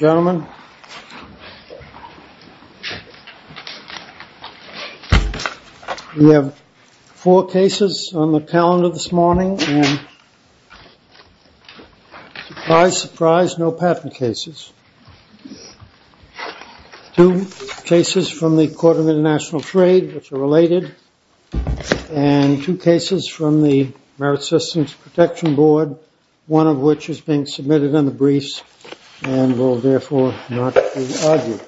Gentlemen, we have four cases on the calendar this morning and surprise, surprise, no patent cases. Two cases from the Court of International Trade which are related and two cases from the Merit Systems Protection Board, one of which is being submitted in the briefs and will therefore not be argued.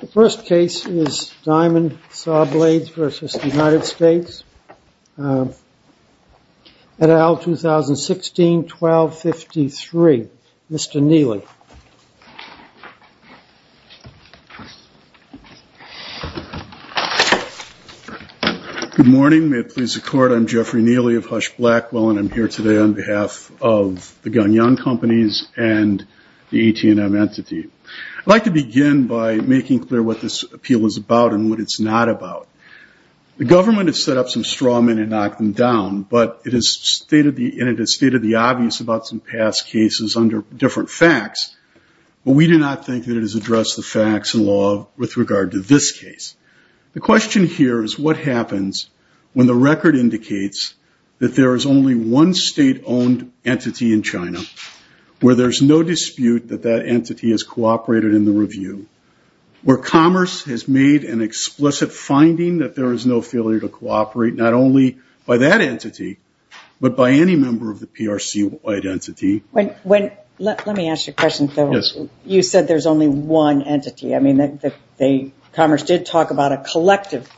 The first case is Diamond Sawblades v. United States, et al. 2016, 1253. Mr. Neely. Good morning, may it please the Court, I'm Jeffrey Neely of Hush Blackwell and I'm here today on behalf of the CNM entity. I'd like to begin by making clear what this appeal is about and what it's not about. The government has set up some straw men and knocked them down, but it has stated the obvious about some past cases under different facts, but we do not think that it has addressed the facts in law with regard to this case. The question here is what happens when the entity has cooperated in the review, where commerce has made an explicit finding that there is no failure to cooperate, not only by that entity, but by any member of the PRC-wide entity. Let me ask you a question. You said there's only one entity. Commerce did talk about a collective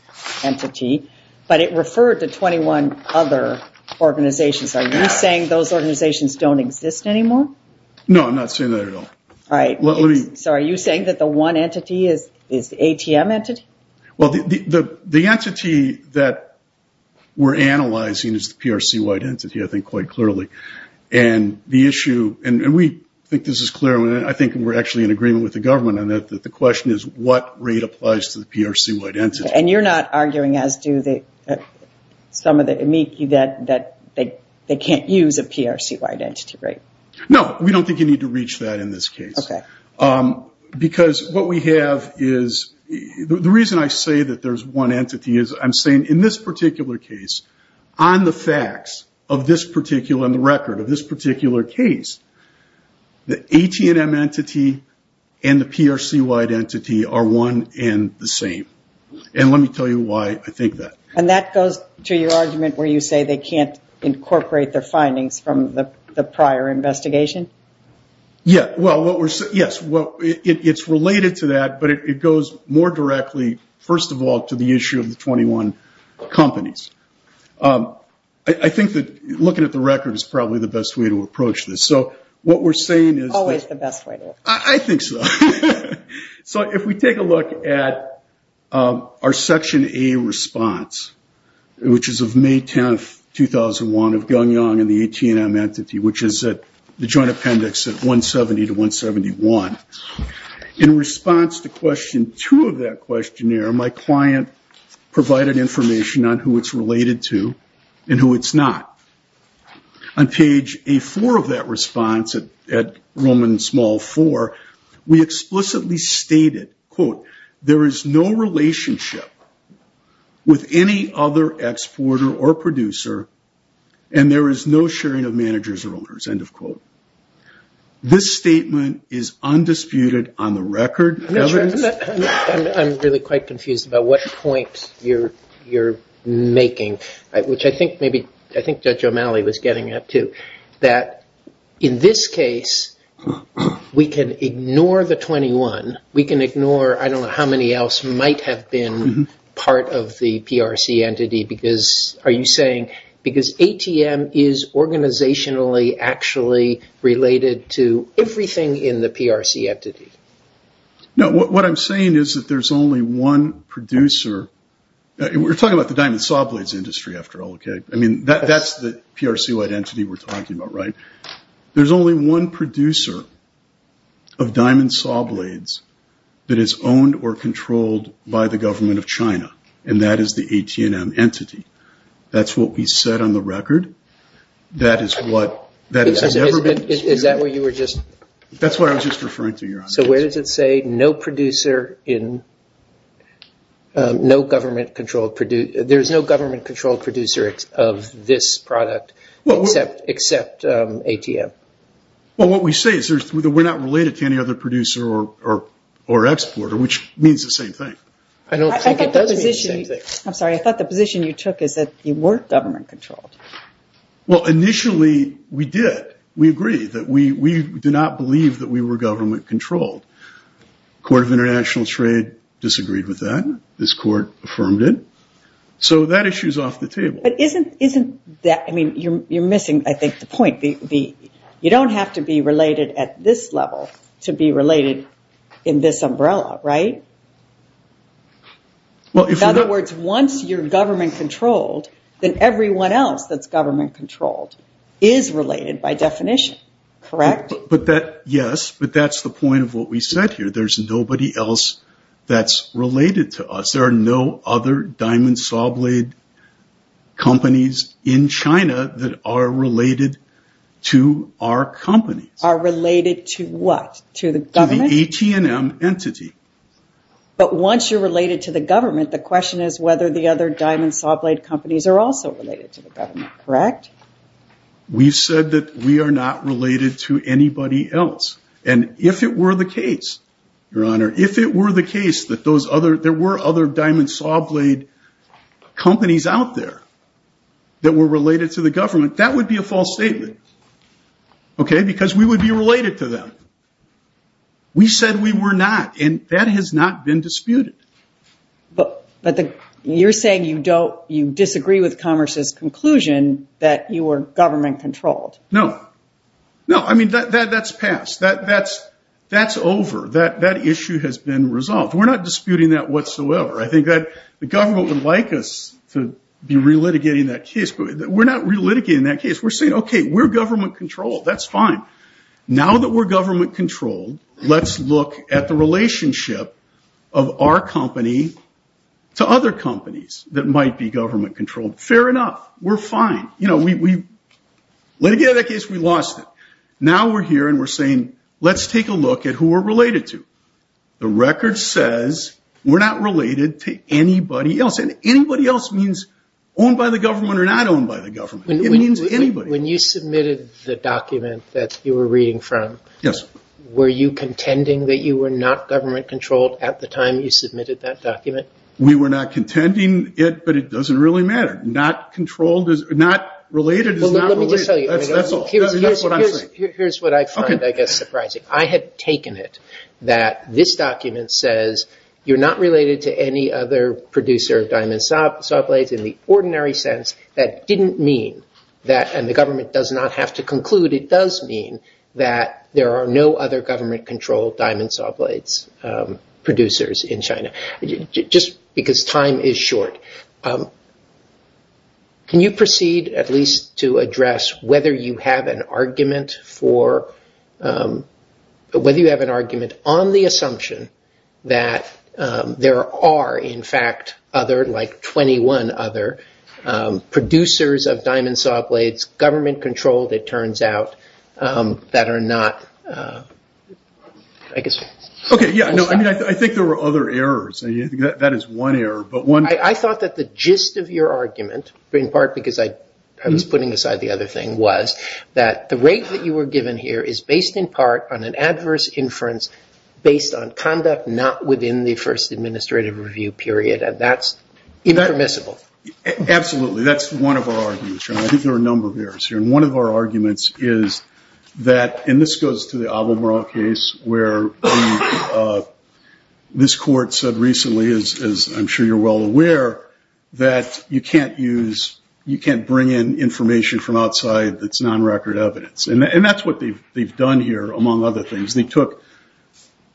entity, but it referred to 21 other organizations. Are you saying those organizations don't exist anymore? No, I'm not saying that at all. Are you saying that the one entity is the ATM entity? The entity that we're analyzing is the PRC-wide entity, I think quite clearly. We think this is clear. I think we're actually in agreement with the government. The question is what rate applies to the PRC-wide entity. You're not arguing as do some of the amici that they can't use a PRC-wide entity, right? No, we don't think you need to reach that in this case. Okay. The reason I say that there's one entity is I'm saying in this particular case, on the facts of this particular record, of this particular case, the ATM entity and the PRC-wide entity are one and the same. Let me tell you why I think that. That goes to your argument where you say they can't incorporate their findings from the prior investigation? Yes. It's related to that, but it goes more directly, first of all, to the issue of the 21 companies. I think that looking at the record is probably the best way to approach this. I think so. If we take a look at our section A response, which is of May 10th, 2001, of Gung Yong and the ATM entity, which is the joint appendix at 170 to 171. In response to question two of that questionnaire, my client provided information on who it's related to and who it's not. On page A4 of that response, at Roman small four, we explicitly stated, quote, there is no relationship with any other exporter or producer and there is no sharing of managers or owners, end of quote. This statement is undisputed on the record. I'm really quite confused about what point you're making, which I think Judge O'Malley was getting at too. In this case, we can ignore the 21. We can ignore, I don't know how many else might have been part of the PRC entity. Are you saying because ATM is organizationally actually related to everything in the PRC entity? No, what I'm saying is that there's only one producer. We're talking about the diamond saw blades industry after all. That's the PRC-led entity we're talking about. There's only one producer of diamond saw blades that is owned or controlled by the government of China and that is the ATM entity. That's what we said on the record. Is that what you were just... That's what I was just referring to, Your Honor. So where does it say no government-controlled producer of this product except ATM? Well, what we say is that we're not related to any other producer or exporter, which means the same thing. I'm sorry. I thought the position you took is that you weren't government-controlled. Well, initially we did. We agreed that we did not believe that we were government-controlled. Court of International Trade disagreed with that. This court affirmed it. So that issue is off the table. But isn't that... I mean, you're missing, I think, the point. You don't have to be related at this level to be related in this umbrella, right? In other words, once you're government-controlled, then everyone else that's government-controlled is related by definition, correct? Yes, but that's the point of what we said here. There's nobody else that's related to us. There are no other diamond saw blade companies in China that are related to our companies. Are related to what? To the government? To the ATM entity. But once you're related to the government, the question is whether the other diamond saw blade companies are also related to the government, correct? We've said that we are not related to anybody else. And if it were the case, Your Honor, if it were the case that there were other diamond saw blade companies out there that were related to the government, that would be a false statement, okay? Because we would be related to them. We said we were not, and that has not been disputed. But you're saying you disagree with Commerce's conclusion that you were government-controlled. No. No, I mean, that's passed. That's over. That issue has been resolved. We're not disputing that whatsoever. I think that the government would like us to be re-litigating that case, but we're not re-litigating that case. We're saying, okay, we're government-controlled. That's fine. Now that we're government-controlled, let's look at the relationship of our company to other companies that might be government-controlled. Fair enough. We're fine. You know, we litigated that case. We lost it. Now we're here and we're saying, let's take a look at who we're related to. The record says we're not related to anybody else. And anybody else means owned by the government or not owned by the government. It means anybody. When you submitted the document that you were reading from, were you contending that you were not government-controlled at the time you submitted that document? We were not contending it, but it doesn't really matter. Not related is not related. That's all. That's what I'm saying. Here's what I find, I guess, surprising. I had taken it that this document says you're not related to any other producer of diamond saw blades. In the ordinary sense, that didn't mean that, and the government does not have to conclude, it does mean that there are no other government-controlled diamond saw blades producers in China. Just because time is short. Can you proceed, at least, to address whether you have an argument on the assumption that there are, in fact, other, like 21 other, producers of diamond saw blades, government-controlled, it turns out, that are not... I think there were other errors. That is one error. I thought that the gist of your argument, in part because I was putting aside the other thing, was that the rate that you were given here is based, in part, on an adverse inference based on conduct not within the first administrative review period. And that's impermissible. Absolutely. That's one of our arguments. I think there are a number of errors here. One of our arguments is that, and this goes to the Abomrah case, where this court said recently, as I'm sure you're well aware, that you can't bring in information from outside that's non-record evidence. And that's what they've done here, among other things. They took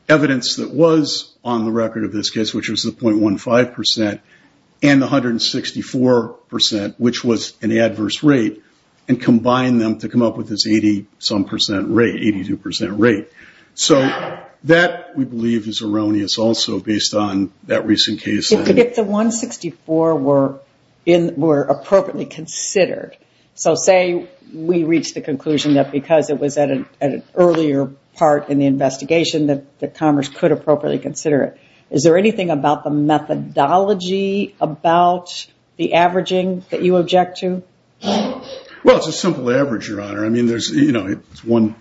evidence that was on the record of this case, which was the 0.15%, and the 164%, which was an adverse rate, and combined them to come up with this 80-some percent rate, 82% rate. So that, we believe, is erroneous also, based on that recent case. If the 164% were appropriately considered, so say we reached the conclusion that because it was at an earlier part in the investigation, that Congress could appropriately consider it, is there anything about the methodology, about the averaging, that you object to? Well, it's a simple average, Your Honor. It's one,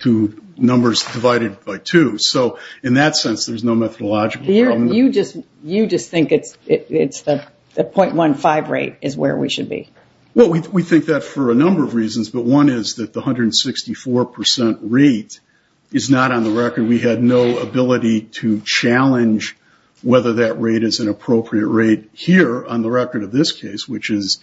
two numbers divided by two. So in that sense, there's no methodological problem. You just think it's the 0.15 rate is where we should be? Well, we think that for a number of reasons, but one is that the 164% rate is not on the record. We had no ability to challenge whether that rate is an appropriate rate here, on the record of this case, which is,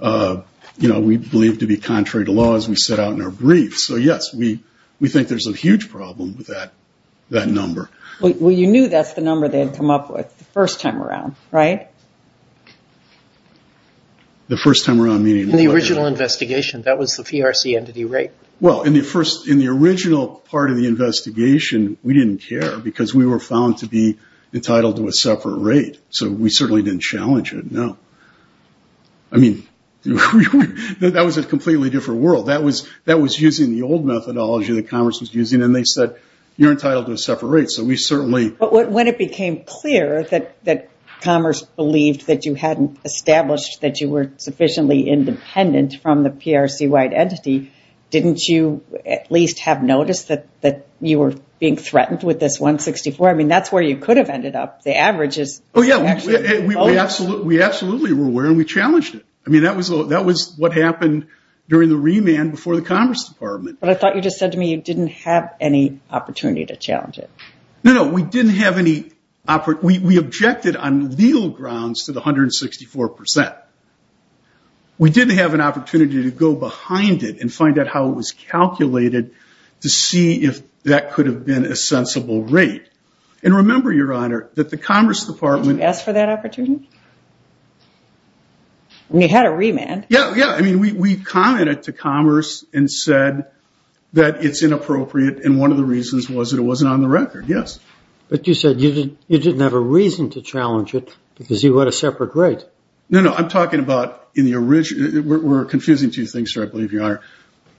you know, we believe to be contrary to law, as we set out in our brief. So yes, we think there's a huge problem with that number. Well, you knew that's the number they had come up with the first time around, right? The first time around, meaning? In the original investigation, that was the PRC entity rate. Well, in the original part of the investigation, we didn't care because we were found to be entitled to a separate rate. So we certainly didn't challenge it, no. I mean, that was a completely different world. That was using the old methodology that Commerce was using, and they said, you're entitled to a separate rate, so we certainly... But when it became clear that Commerce believed that you hadn't established that you were sufficiently independent from the PRC-wide entity, didn't you at least have noticed that you were being threatened with this 164? I mean, that's where you could have ended up. Oh, yeah, we absolutely were aware, and we challenged it. I mean, that was what happened during the remand before the Commerce Department. But I thought you just said to me you didn't have any opportunity to challenge it. No, no, we didn't have any... We objected on legal grounds to the 164%. We didn't have an opportunity to go behind it and find out how it was calculated to see if that could have been a sensible rate. And remember, Your Honour, that the Commerce Department... Did you ask for that opportunity? I mean, you had a remand. Yeah, yeah. I mean, we commented to Commerce and said that it's inappropriate, and one of the reasons was that it wasn't on the record. Yes. But you said you didn't have a reason to challenge it because you had a separate rate. No, no. I'm talking about in the original... We're confusing two things here, I believe, Your Honour.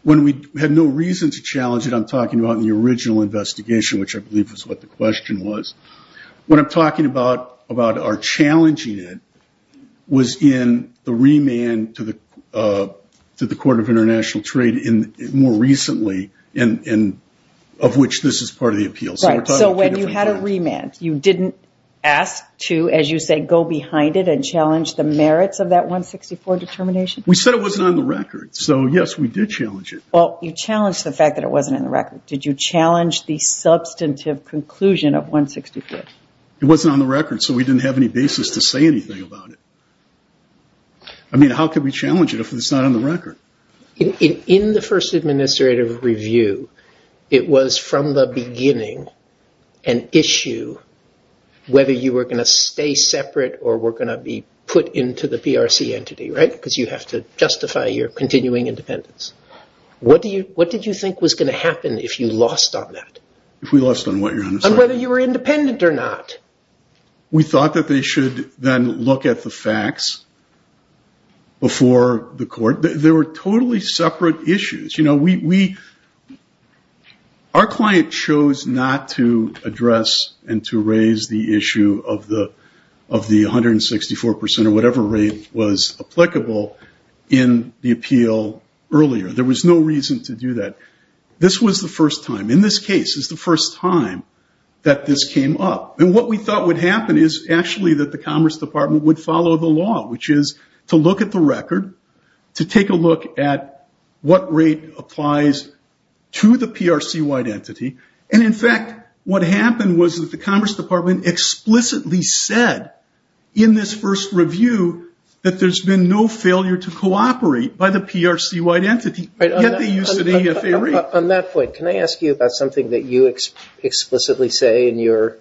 When we had no reason to challenge it, I'm talking about in the original investigation, which I believe was what the question was. What I'm talking about, about our challenging it, was in the remand to the Court of International Trade more recently, of which this is part of the appeal. Right. So when you had a remand, you didn't ask to, as you say, go behind it and challenge the merits of that 164 determination? We said it wasn't on the record. So, yes, we did challenge it. Well, you challenged the fact that it wasn't on the record. Did you challenge the substantive conclusion of 164? It wasn't on the record, so we didn't have any basis to say anything about it. I mean, how could we challenge it if it's not on the record? In the first administrative review, it was from the beginning an issue whether you were going to stay separate or were going to be put into the PRC entity, right? Because you have to justify your continuing independence. What did you think was going to happen if you lost on that? If we lost on what, Your Honor? On whether you were independent or not. We thought that they should then look at the facts before the court. They were totally separate issues. Our client chose not to address and to raise the issue of the 164% or whatever rate was applicable in the appeal earlier. There was no reason to do that. This was the first time. In this case, it's the first time that this came up. And what we thought would happen is actually that the Commerce Department would follow the law, which is to look at the record, to take a look at what rate applies to the PRC-wide entity. And in fact, what happened was that the Commerce Department explicitly said in this first review that there's been no failure to cooperate by the PRC-wide entity, yet they used an EFA rate. On that point, can I ask you about something that you explicitly say in your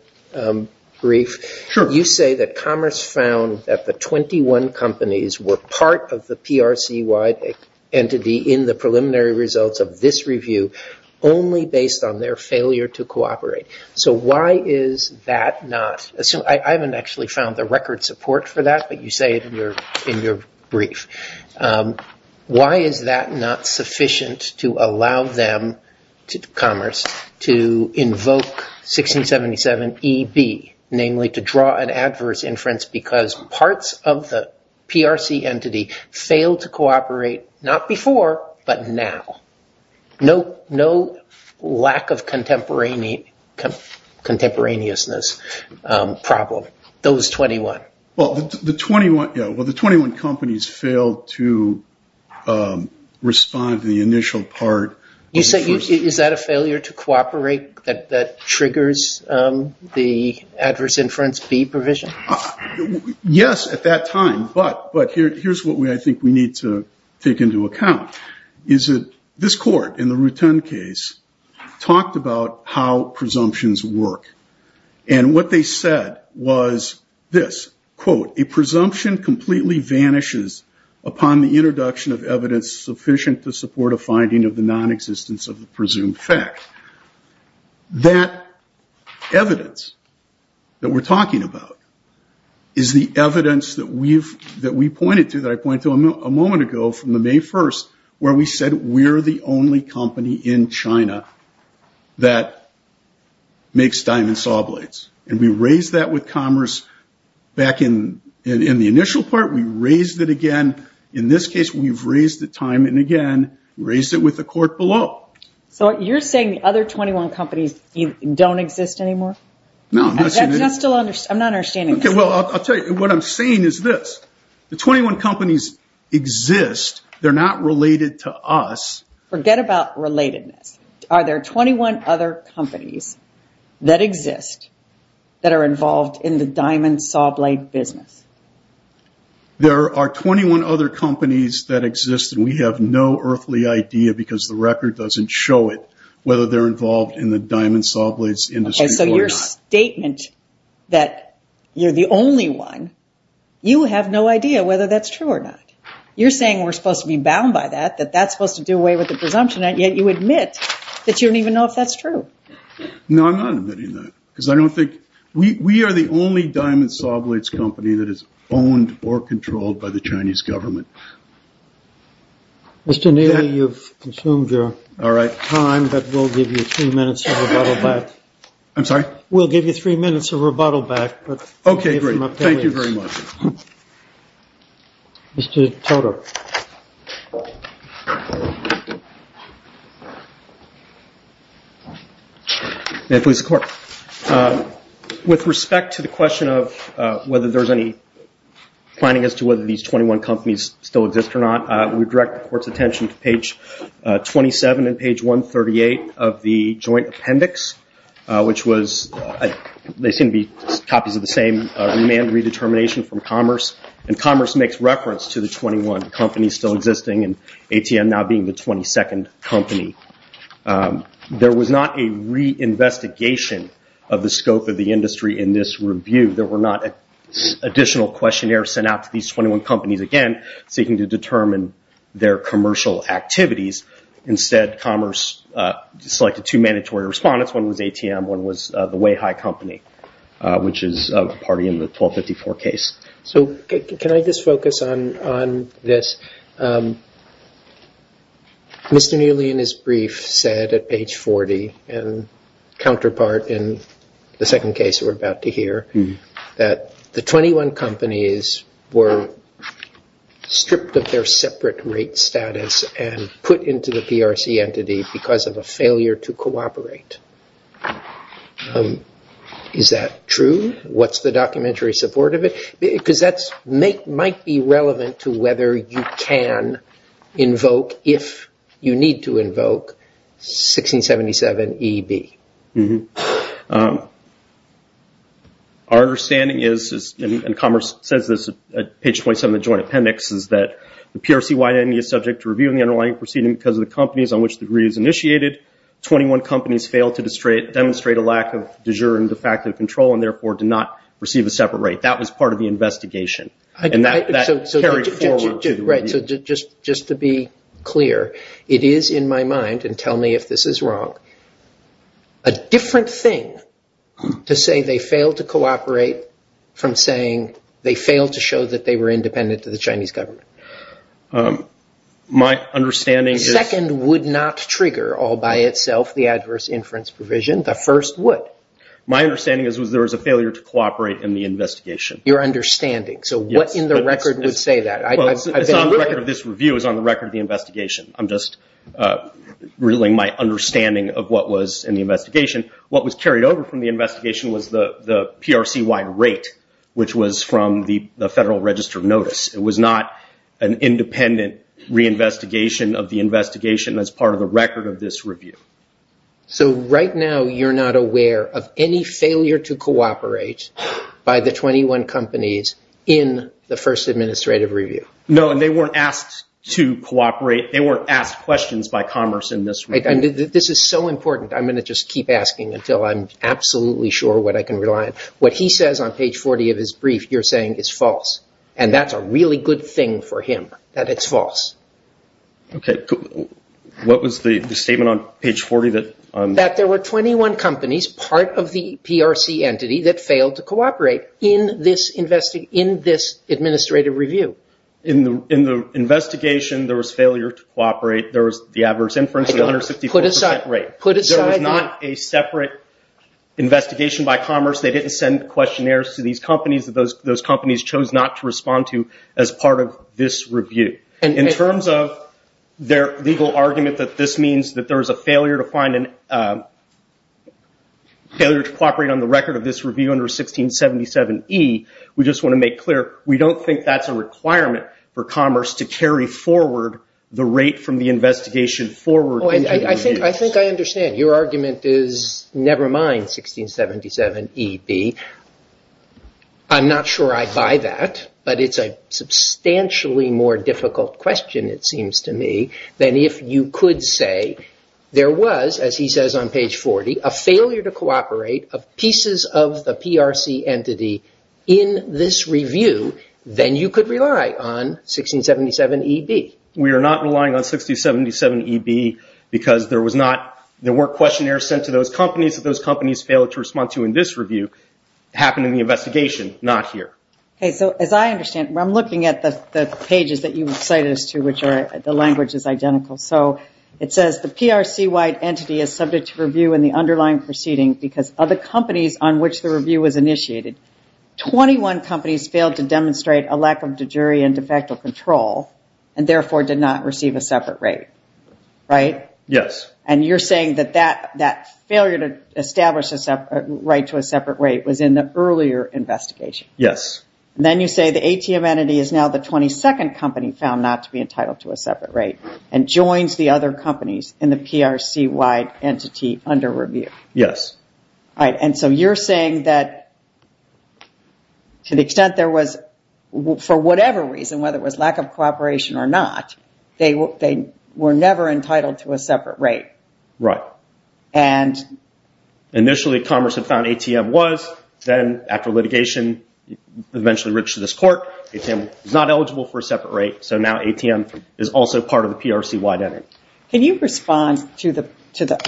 brief? Sure. You say that Commerce found that the 21 companies were part of the PRC-wide entity in the preliminary results of this review only based on their failure to cooperate. So why is that not? I haven't actually found the record support for that, but you say it in your brief. Why is that not sufficient to allow them, Commerce, to invoke 1677EB, namely to draw an adverse inference because parts of the PRC entity failed to cooperate, not before, but now? No lack of contemporaneousness problem, those 21. Well, the 21 companies failed to respond to the initial part. Is that a failure to cooperate that triggers the adverse inference B provision? Yes, at that time, but here's what I think we need to take into account. This court, in the Rutan case, talked about how presumptions work. And what they said was this, quote, a presumption completely vanishes upon the introduction of evidence sufficient to support a finding of the nonexistence of the presumed fact. That evidence that we're talking about is the evidence that we've, a moment ago, from the May 1st, where we said we're the only company in China that makes diamond saw blades. And we raised that with Commerce back in the initial part. We raised it again. In this case, we've raised it time and again, raised it with the court below. So you're saying the other 21 companies don't exist anymore? No. I'm not understanding this. Well, I'll tell you, what I'm saying is this. The 21 companies exist. They're not related to us. Forget about relatedness. Are there 21 other companies that exist, that are involved in the diamond saw blade business? There are 21 other companies that exist, and we have no earthly idea, because the record doesn't show it, whether they're involved in the diamond saw blades industry or not. Okay, so your statement that you're the only one, you have no idea whether that's true or not. You're saying we're supposed to be bound by that, that that's supposed to do away with the presumption, and yet you admit that you don't even know if that's true. No, I'm not admitting that. Because I don't think, we are the only diamond saw blades company that is owned or controlled by the Chinese government. Mr. Neely, you've consumed your time, but we'll give you three minutes of rebuttal back. I'm sorry? We'll give you three minutes of rebuttal back. Okay, great. Thank you very much. Mr. Toter. May it please the Court. With respect to the question of whether there's any planning as to whether these 21 companies still exist or not, we direct the Court's attention to page 27 and page 138 of the joint appendix, which was, they seem to be copies of the same remand redetermination from Commerce, and Commerce makes reference to the 21 companies still existing, and ATM now being the 22nd company. There was not a reinvestigation of the scope of the industry in this review. There were not additional questionnaires sent out to these 21 companies, again, seeking to determine their commercial activities. Instead, Commerce selected two mandatory respondents, one was ATM, one was the Way High Company, which is a party in the 1254 case. Can I just focus on this? Mr. Neely, in his brief, said at page 40, and counterpart in the second case we're about to hear, that the 21 companies were stripped of their separate rate status and put into the PRC entity because of a failure to cooperate. Is that true? What's the documentary support of it? Because that might be relevant to whether you can invoke, if you need to invoke, 1677EB. Our understanding is, and Commerce says this at page 27 of the joint appendix, that the PRC entity is subject to review in the underlying proceeding because of the companies on which the review is initiated. 21 companies failed to demonstrate a lack of de jure and de facto control, and therefore did not receive a separate rate. That was part of the investigation. Just to be clear, it is in my mind, and tell me if this is wrong, a different thing to say they failed to cooperate from saying, they failed to show that they were independent to the Chinese government. The second would not trigger all by itself the adverse inference provision. The first would. My understanding is there was a failure to cooperate in the investigation. Your understanding. So what in the record would say that? The record of this review is on the record of the investigation. I'm just reeling my understanding of what was in the investigation. What was carried over from the investigation was the PRC wide rate, which was from the Federal Register of Notice. It was not an independent reinvestigation of the investigation as part of the record of this review. So right now you're not aware of any failure to cooperate by the 21 companies in the first administrative review? No, and they weren't asked to cooperate. They weren't asked questions by Commerce in this review. This is so important. I'm going to just keep asking until I'm absolutely sure what I can rely on. What he says on page 40 of his brief, you're saying is false. And that's a really good thing for him, that it's false. What was the statement on page 40? That there were 21 companies, part of the PRC entity, that failed to cooperate in this administrative review. In the investigation, there was failure to cooperate. There was the adverse inference rate. There was not a separate investigation by Commerce. They didn't send questionnaires to these companies. Those companies chose not to respond to as part of this review. In terms of their legal argument that this means that there was a failure to cooperate on the record of this review under 1677E, we just want to make clear, we don't think that's a requirement for Commerce to carry forward the rate from the investigation forward. I think I understand. Your argument is never mind 1677EB. I'm not sure I buy that. But it's a substantially more difficult question, it seems to me, than if you could say there was, as he says on page 40, a failure to cooperate of pieces of the PRC entity in this review, then you could rely on 1677EB. We are not relying on 1677EB because there weren't questionnaires sent to those companies that those companies failed to respond to in this review. It happened in the investigation, not here. As I understand, I'm looking at the pages that you cited us to, which the language is identical. It says the PRC-wide entity is subject to review in the underlying proceeding because of the companies on which the review was initiated. 21 companies failed to demonstrate a lack of de jure and de facto control. And therefore, did not receive a separate rate, right? Yes. And you're saying that that failure to establish a right to a separate rate was in the earlier investigation. Yes. And then you say the ATM entity is now the 22nd company found not to be entitled to a separate rate and joins the other companies in the PRC-wide entity under review. Yes. And so you're saying that to the extent there was, for whatever reason, whether it was lack of cooperation or not, they were never entitled to a separate rate. Right. And... Initially, Congress had found ATM was. Then after litigation, eventually reached to this court, ATM was not eligible for a separate rate. So now ATM is also part of the PRC-wide entity. Can you respond to the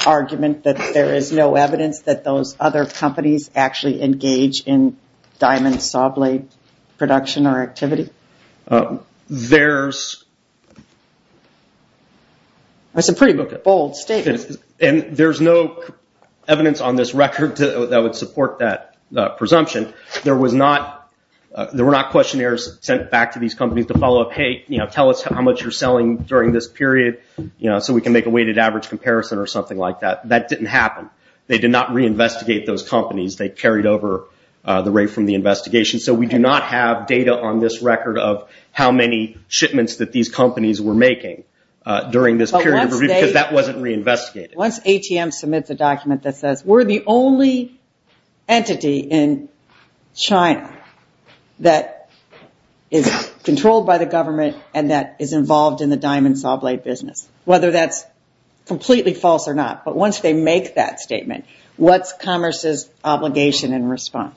argument that there is no evidence that those other companies actually engage in diamond saw blade production or activity? There's... That's a pretty bold statement. And there's no evidence on this record that would support that presumption. There were not questionnaires sent back to these companies to follow up, hey, tell us how much you're selling during this period, so we can make a weighted average comparison or something like that. That didn't happen. They did not reinvestigate those companies. They carried over the rate from the investigation. So we do not have data on this record of how many shipments that these companies were making during this period because that wasn't reinvestigated. Once ATM submits a document that says, we're the only entity in China that is controlled by the government and that is involved in the diamond saw blade business, whether that's completely false or not, but once they make that statement, what's Commerce's obligation in response?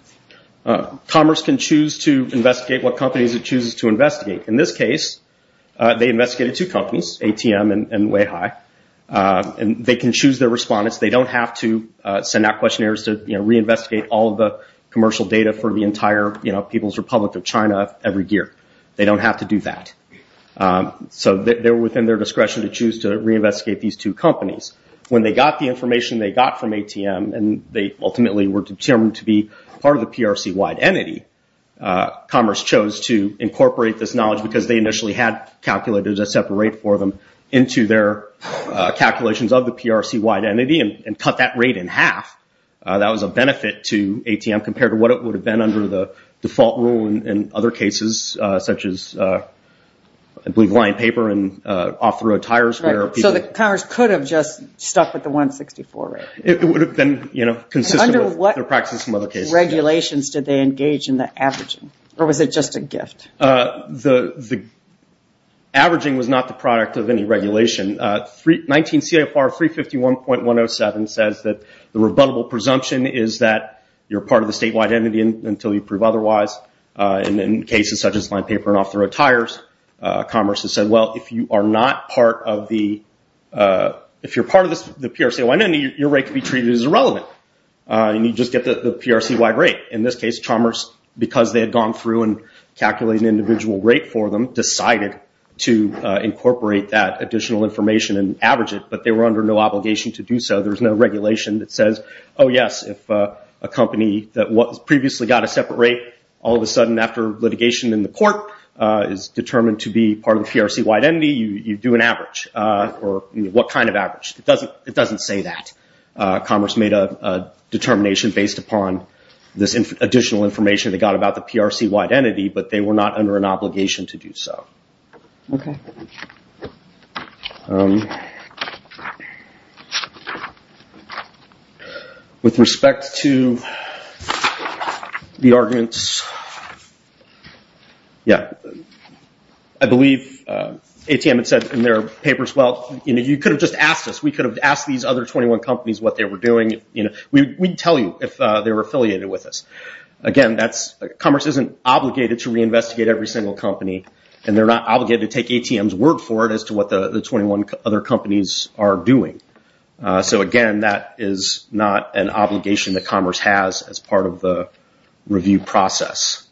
Commerce can choose to investigate what companies it chooses to investigate. In this case, they investigated two companies, ATM and Weihai, and they can choose their respondents. They don't have to send out questionnaires to reinvestigate all of the commercial data for the entire People's Republic of China every year. They don't have to do that. So they're within their discretion to choose to reinvestigate these two companies. When they got the information they got from ATM, and they ultimately were determined to be part of the PRC-wide entity, Commerce chose to incorporate this knowledge because they initially had calculated a separate rate for them into their calculations of the PRC-wide entity and cut that rate in half. That was a benefit to ATM compared to what it would have been under the default rule in other cases, such as, I believe, line paper and off-the-road tires. So Commerce could have just stuck with the 164 rate. Under what regulations did they engage in the averaging? Or was it just a gift? The averaging was not the product of any regulation. 19 CFR 351.107 says that the rebuttable presumption is that you're part of the statewide entity until you prove otherwise. In cases such as line paper and off-the-road tires, Commerce has said, well, if you're part of the PRC-wide entity, your rate can be treated as irrelevant, and you just get the PRC-wide rate. In this case, Commerce, because they had gone through and calculated an individual rate for them, decided to incorporate that additional information and average it, but they were under no obligation to do so. There's no regulation that says, oh, yes, if a company that previously got a separate rate, all of a sudden, after litigation in the court, is determined to be part of the PRC-wide entity, you do an average. Or what kind of average? It doesn't say that. Commerce made a determination based upon this additional information they got about the PRC-wide entity, but they were not under an obligation to do so. With respect to the arguments... I believe ATM had said in their papers, you could have just asked us. We could have asked these other 21 companies what they were doing. We'd tell you if they were affiliated with us. Again, Commerce isn't obligated to reinvestigate every single company, and they're not obligated to take ATM's word for it as to what the 21 other companies are doing. Again, that is not an obligation that Commerce has as part of the review process.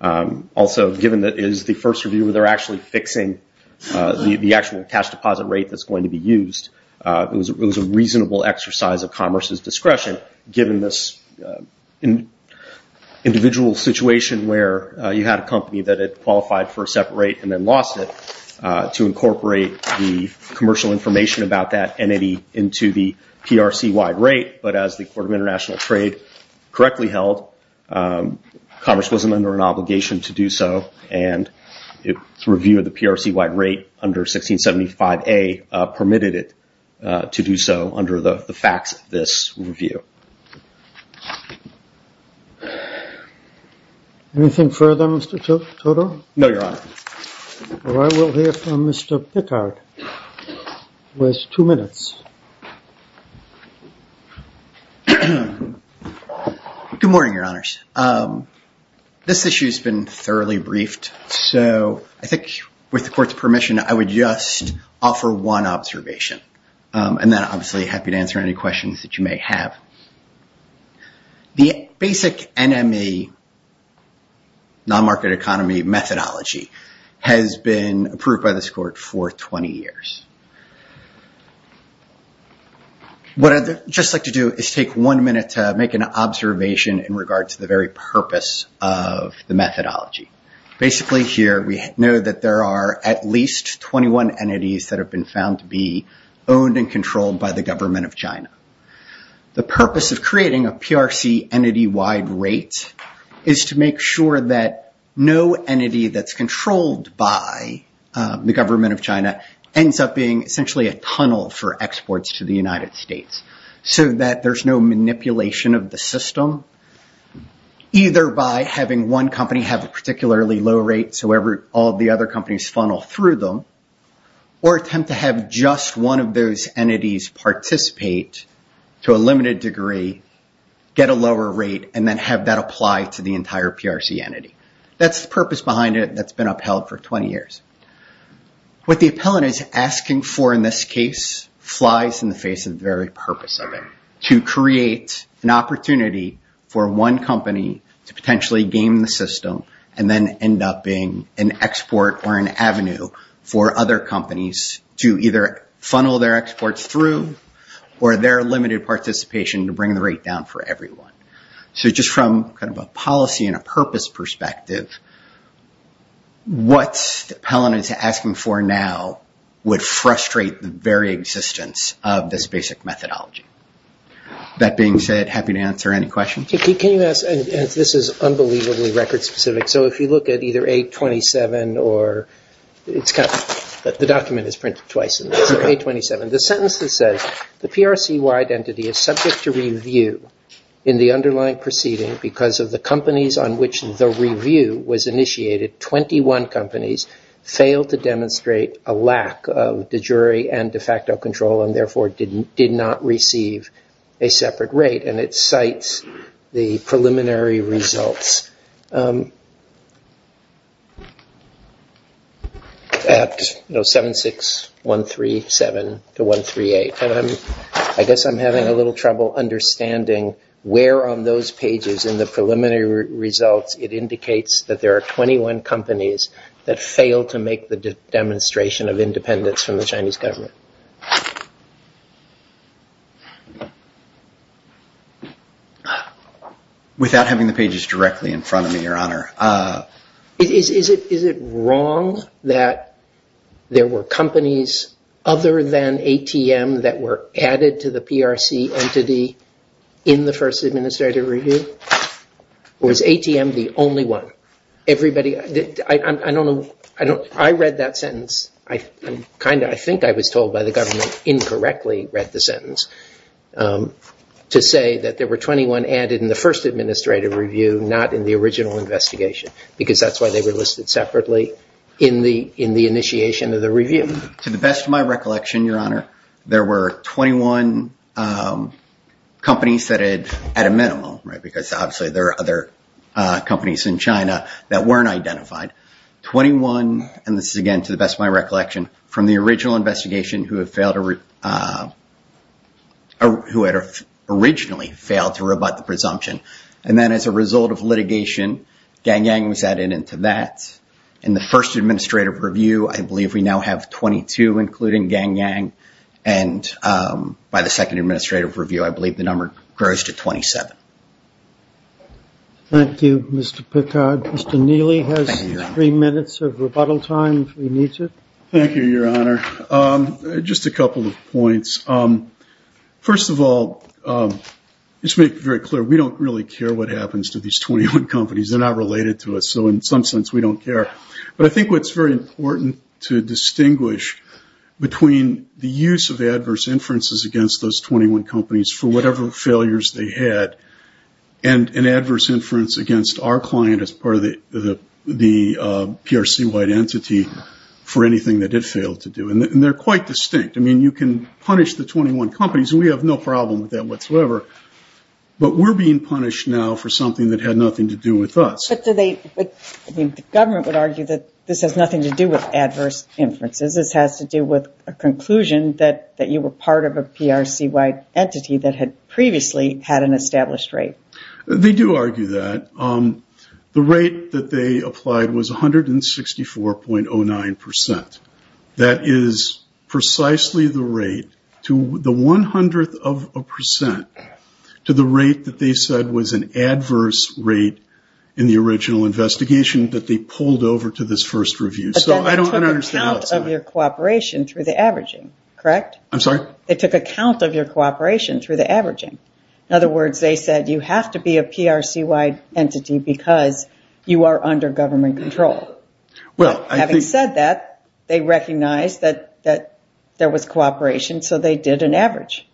Also, given that it is the first review where they're actually fixing the actual cash deposit rate that's going to be used, it was a reasonable exercise of Commerce's discretion, given this individual situation where you had a company that had qualified for a separate rate and then lost it, to incorporate the commercial information about that entity into the PRC-wide rate, but as the Court of International Trade correctly held, Commerce wasn't under an obligation to do so, and its review of the PRC-wide rate under 1675A permitted it to do so under the facts of this review. Anything further, Mr. Toto? No, Your Honor. Well, I will hear from Mr. Pickard, who has two minutes. Good morning, Your Honors. This issue's been thoroughly briefed, so I think with the Court's permission, I would just offer one observation, and then obviously happy to answer any questions that you may have. The basic NME, non-market economy methodology, has been approved by this Court for 20 years. What I'd just like to do is take one minute to make an observation in regards to the very purpose of the methodology. Basically here, we know that there are at least 21 entities that have been found to be owned and controlled by the government of China. The purpose of creating a PRC entity-wide rate is to make sure that no entity that's controlled by the government of China ends up being essentially a tunnel for exports to the United States, so that there's no manipulation of the system, either by having one company have a particularly low rate so all the other companies funnel through them, or attempt to have just one of those entities participate to a limited degree, get a lower rate, and then have that apply to the entire PRC entity. That's the purpose behind it that's been upheld for 20 years. What the appellant is asking for in this case flies in the face of the very purpose of it, to create an opportunity for one company to potentially game the system, and then end up being an export or an avenue for other companies to either funnel their exports through, or their limited participation to bring the rate down for everyone. Just from a policy and a purpose perspective, what the appellant is asking for now would frustrate the very existence of this basic methodology. That being said, happy to answer any questions. Can you ask, and this is unbelievably record-specific, so if you look at either A27 or, the document is printed twice in this, A27, the sentence that says, the PRC-wide entity is subject to review in the underlying proceeding because of the companies on which the review was initiated, 21 companies, failed to demonstrate a lack of de jure and de facto control, and therefore did not receive a separate rate, and it cites the preliminary results, at 76137 to 138. I guess I'm having a little trouble understanding where on those pages in the preliminary results it indicates that there are 21 companies that failed to make the demonstration of independence from the Chinese government. Without having the pages directly in front of me, your honor. Is it wrong that there were companies other than ATM that were added to the PRC entity in the first administrative review? Or is ATM the only one? Everybody, I don't know, I read that sentence, I think I was told by the government, incorrectly read the sentence, to say that there were 21 added in the first administrative review, not in the original investigation, because that's why they were listed separately in the initiation of the review. To the best of my recollection, your honor, there were 21 companies that had, at a minimum, right, because obviously there are other companies in China that weren't identified. 21, and this is again to the best of my recollection, from the original investigation who had originally failed to rebut the presumption, and then as a result of litigation, Gang Yang was added into that, and the first administrative review, I believe we now have 22, including Gang Yang, and by the second administrative review, I believe the number grows to 27. Thank you, Mr. Picard. Mr. Neely has three minutes of rebuttal time, if he needs it. Thank you, your honor. Just a couple of points. First of all, let's make it very clear, we don't really care what happens to these 21 companies, they're not related to us, so in some sense we don't care. But I think what's very important to distinguish between the use of adverse inferences against those 21 companies for whatever failures they had, and an adverse inference against our client as part of the PRC-wide entity for anything that it failed to do, and they're quite distinct. I mean, you can punish the 21 companies, and we have no problem with that whatsoever, but we're being punished now for something that had nothing to do with us. But the government would argue that this has nothing to do with adverse inferences, this has to do with a conclusion that you were part of a PRC-wide entity that had previously had an established rate. They do argue that. The rate that they applied was 164.09%. That is precisely the rate, the one hundredth of a percent, to the rate that they said was an adverse rate in the original investigation that they pulled over to this first review. So I don't understand that. They took account of your cooperation through the averaging, correct? I'm sorry? They took account of your cooperation through the averaging. In other words, they said you have to be a PRC-wide entity because you are under government control. Having said that, they recognized that there was cooperation, so they did an average.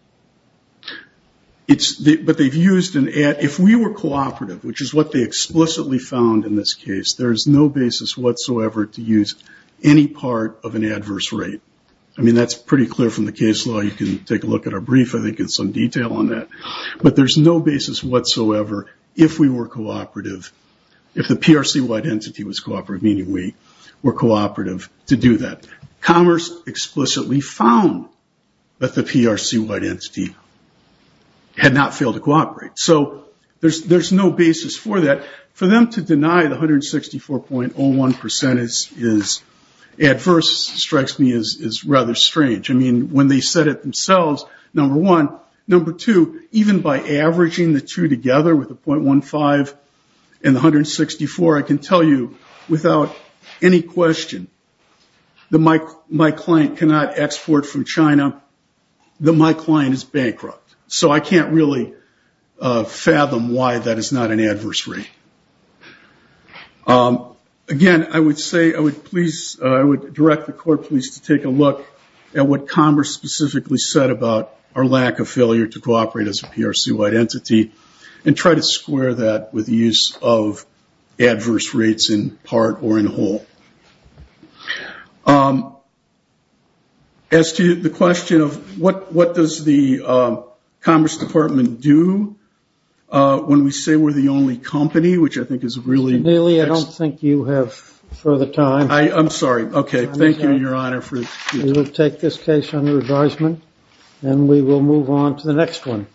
If we were cooperative, which is what they explicitly found in this case, there is no basis whatsoever to use any part of an adverse rate. I mean, that's pretty clear from the case law. You can take a look at our brief I think in some detail on that. But there's no basis whatsoever if we were cooperative, if the PRC-wide entity was cooperative, meaning we were cooperative to do that. Commerce explicitly found that the PRC-wide entity had not failed to cooperate. So there's no basis for that. Why the 164.01% is adverse strikes me as rather strange. I mean, when they said it themselves, number one. Number two, even by averaging the two together with the .15 and the 164, I can tell you without any question that my client cannot export from China, that my client is bankrupt. So I can't really fathom why that is not an answer. Again, I would say, I would please, I would direct the court please to take a look at what Commerce specifically said about our lack of failure to cooperate as a PRC-wide entity and try to square that with the use of adverse rates in part or in whole. As to the question of what does the Commerce Department do when we say we're the only company which I think is really... Mr. Neely, I don't think you have further time. I'm sorry. Okay. Thank you, Your Honor. We will take this case under advisement and we will move on to the next one.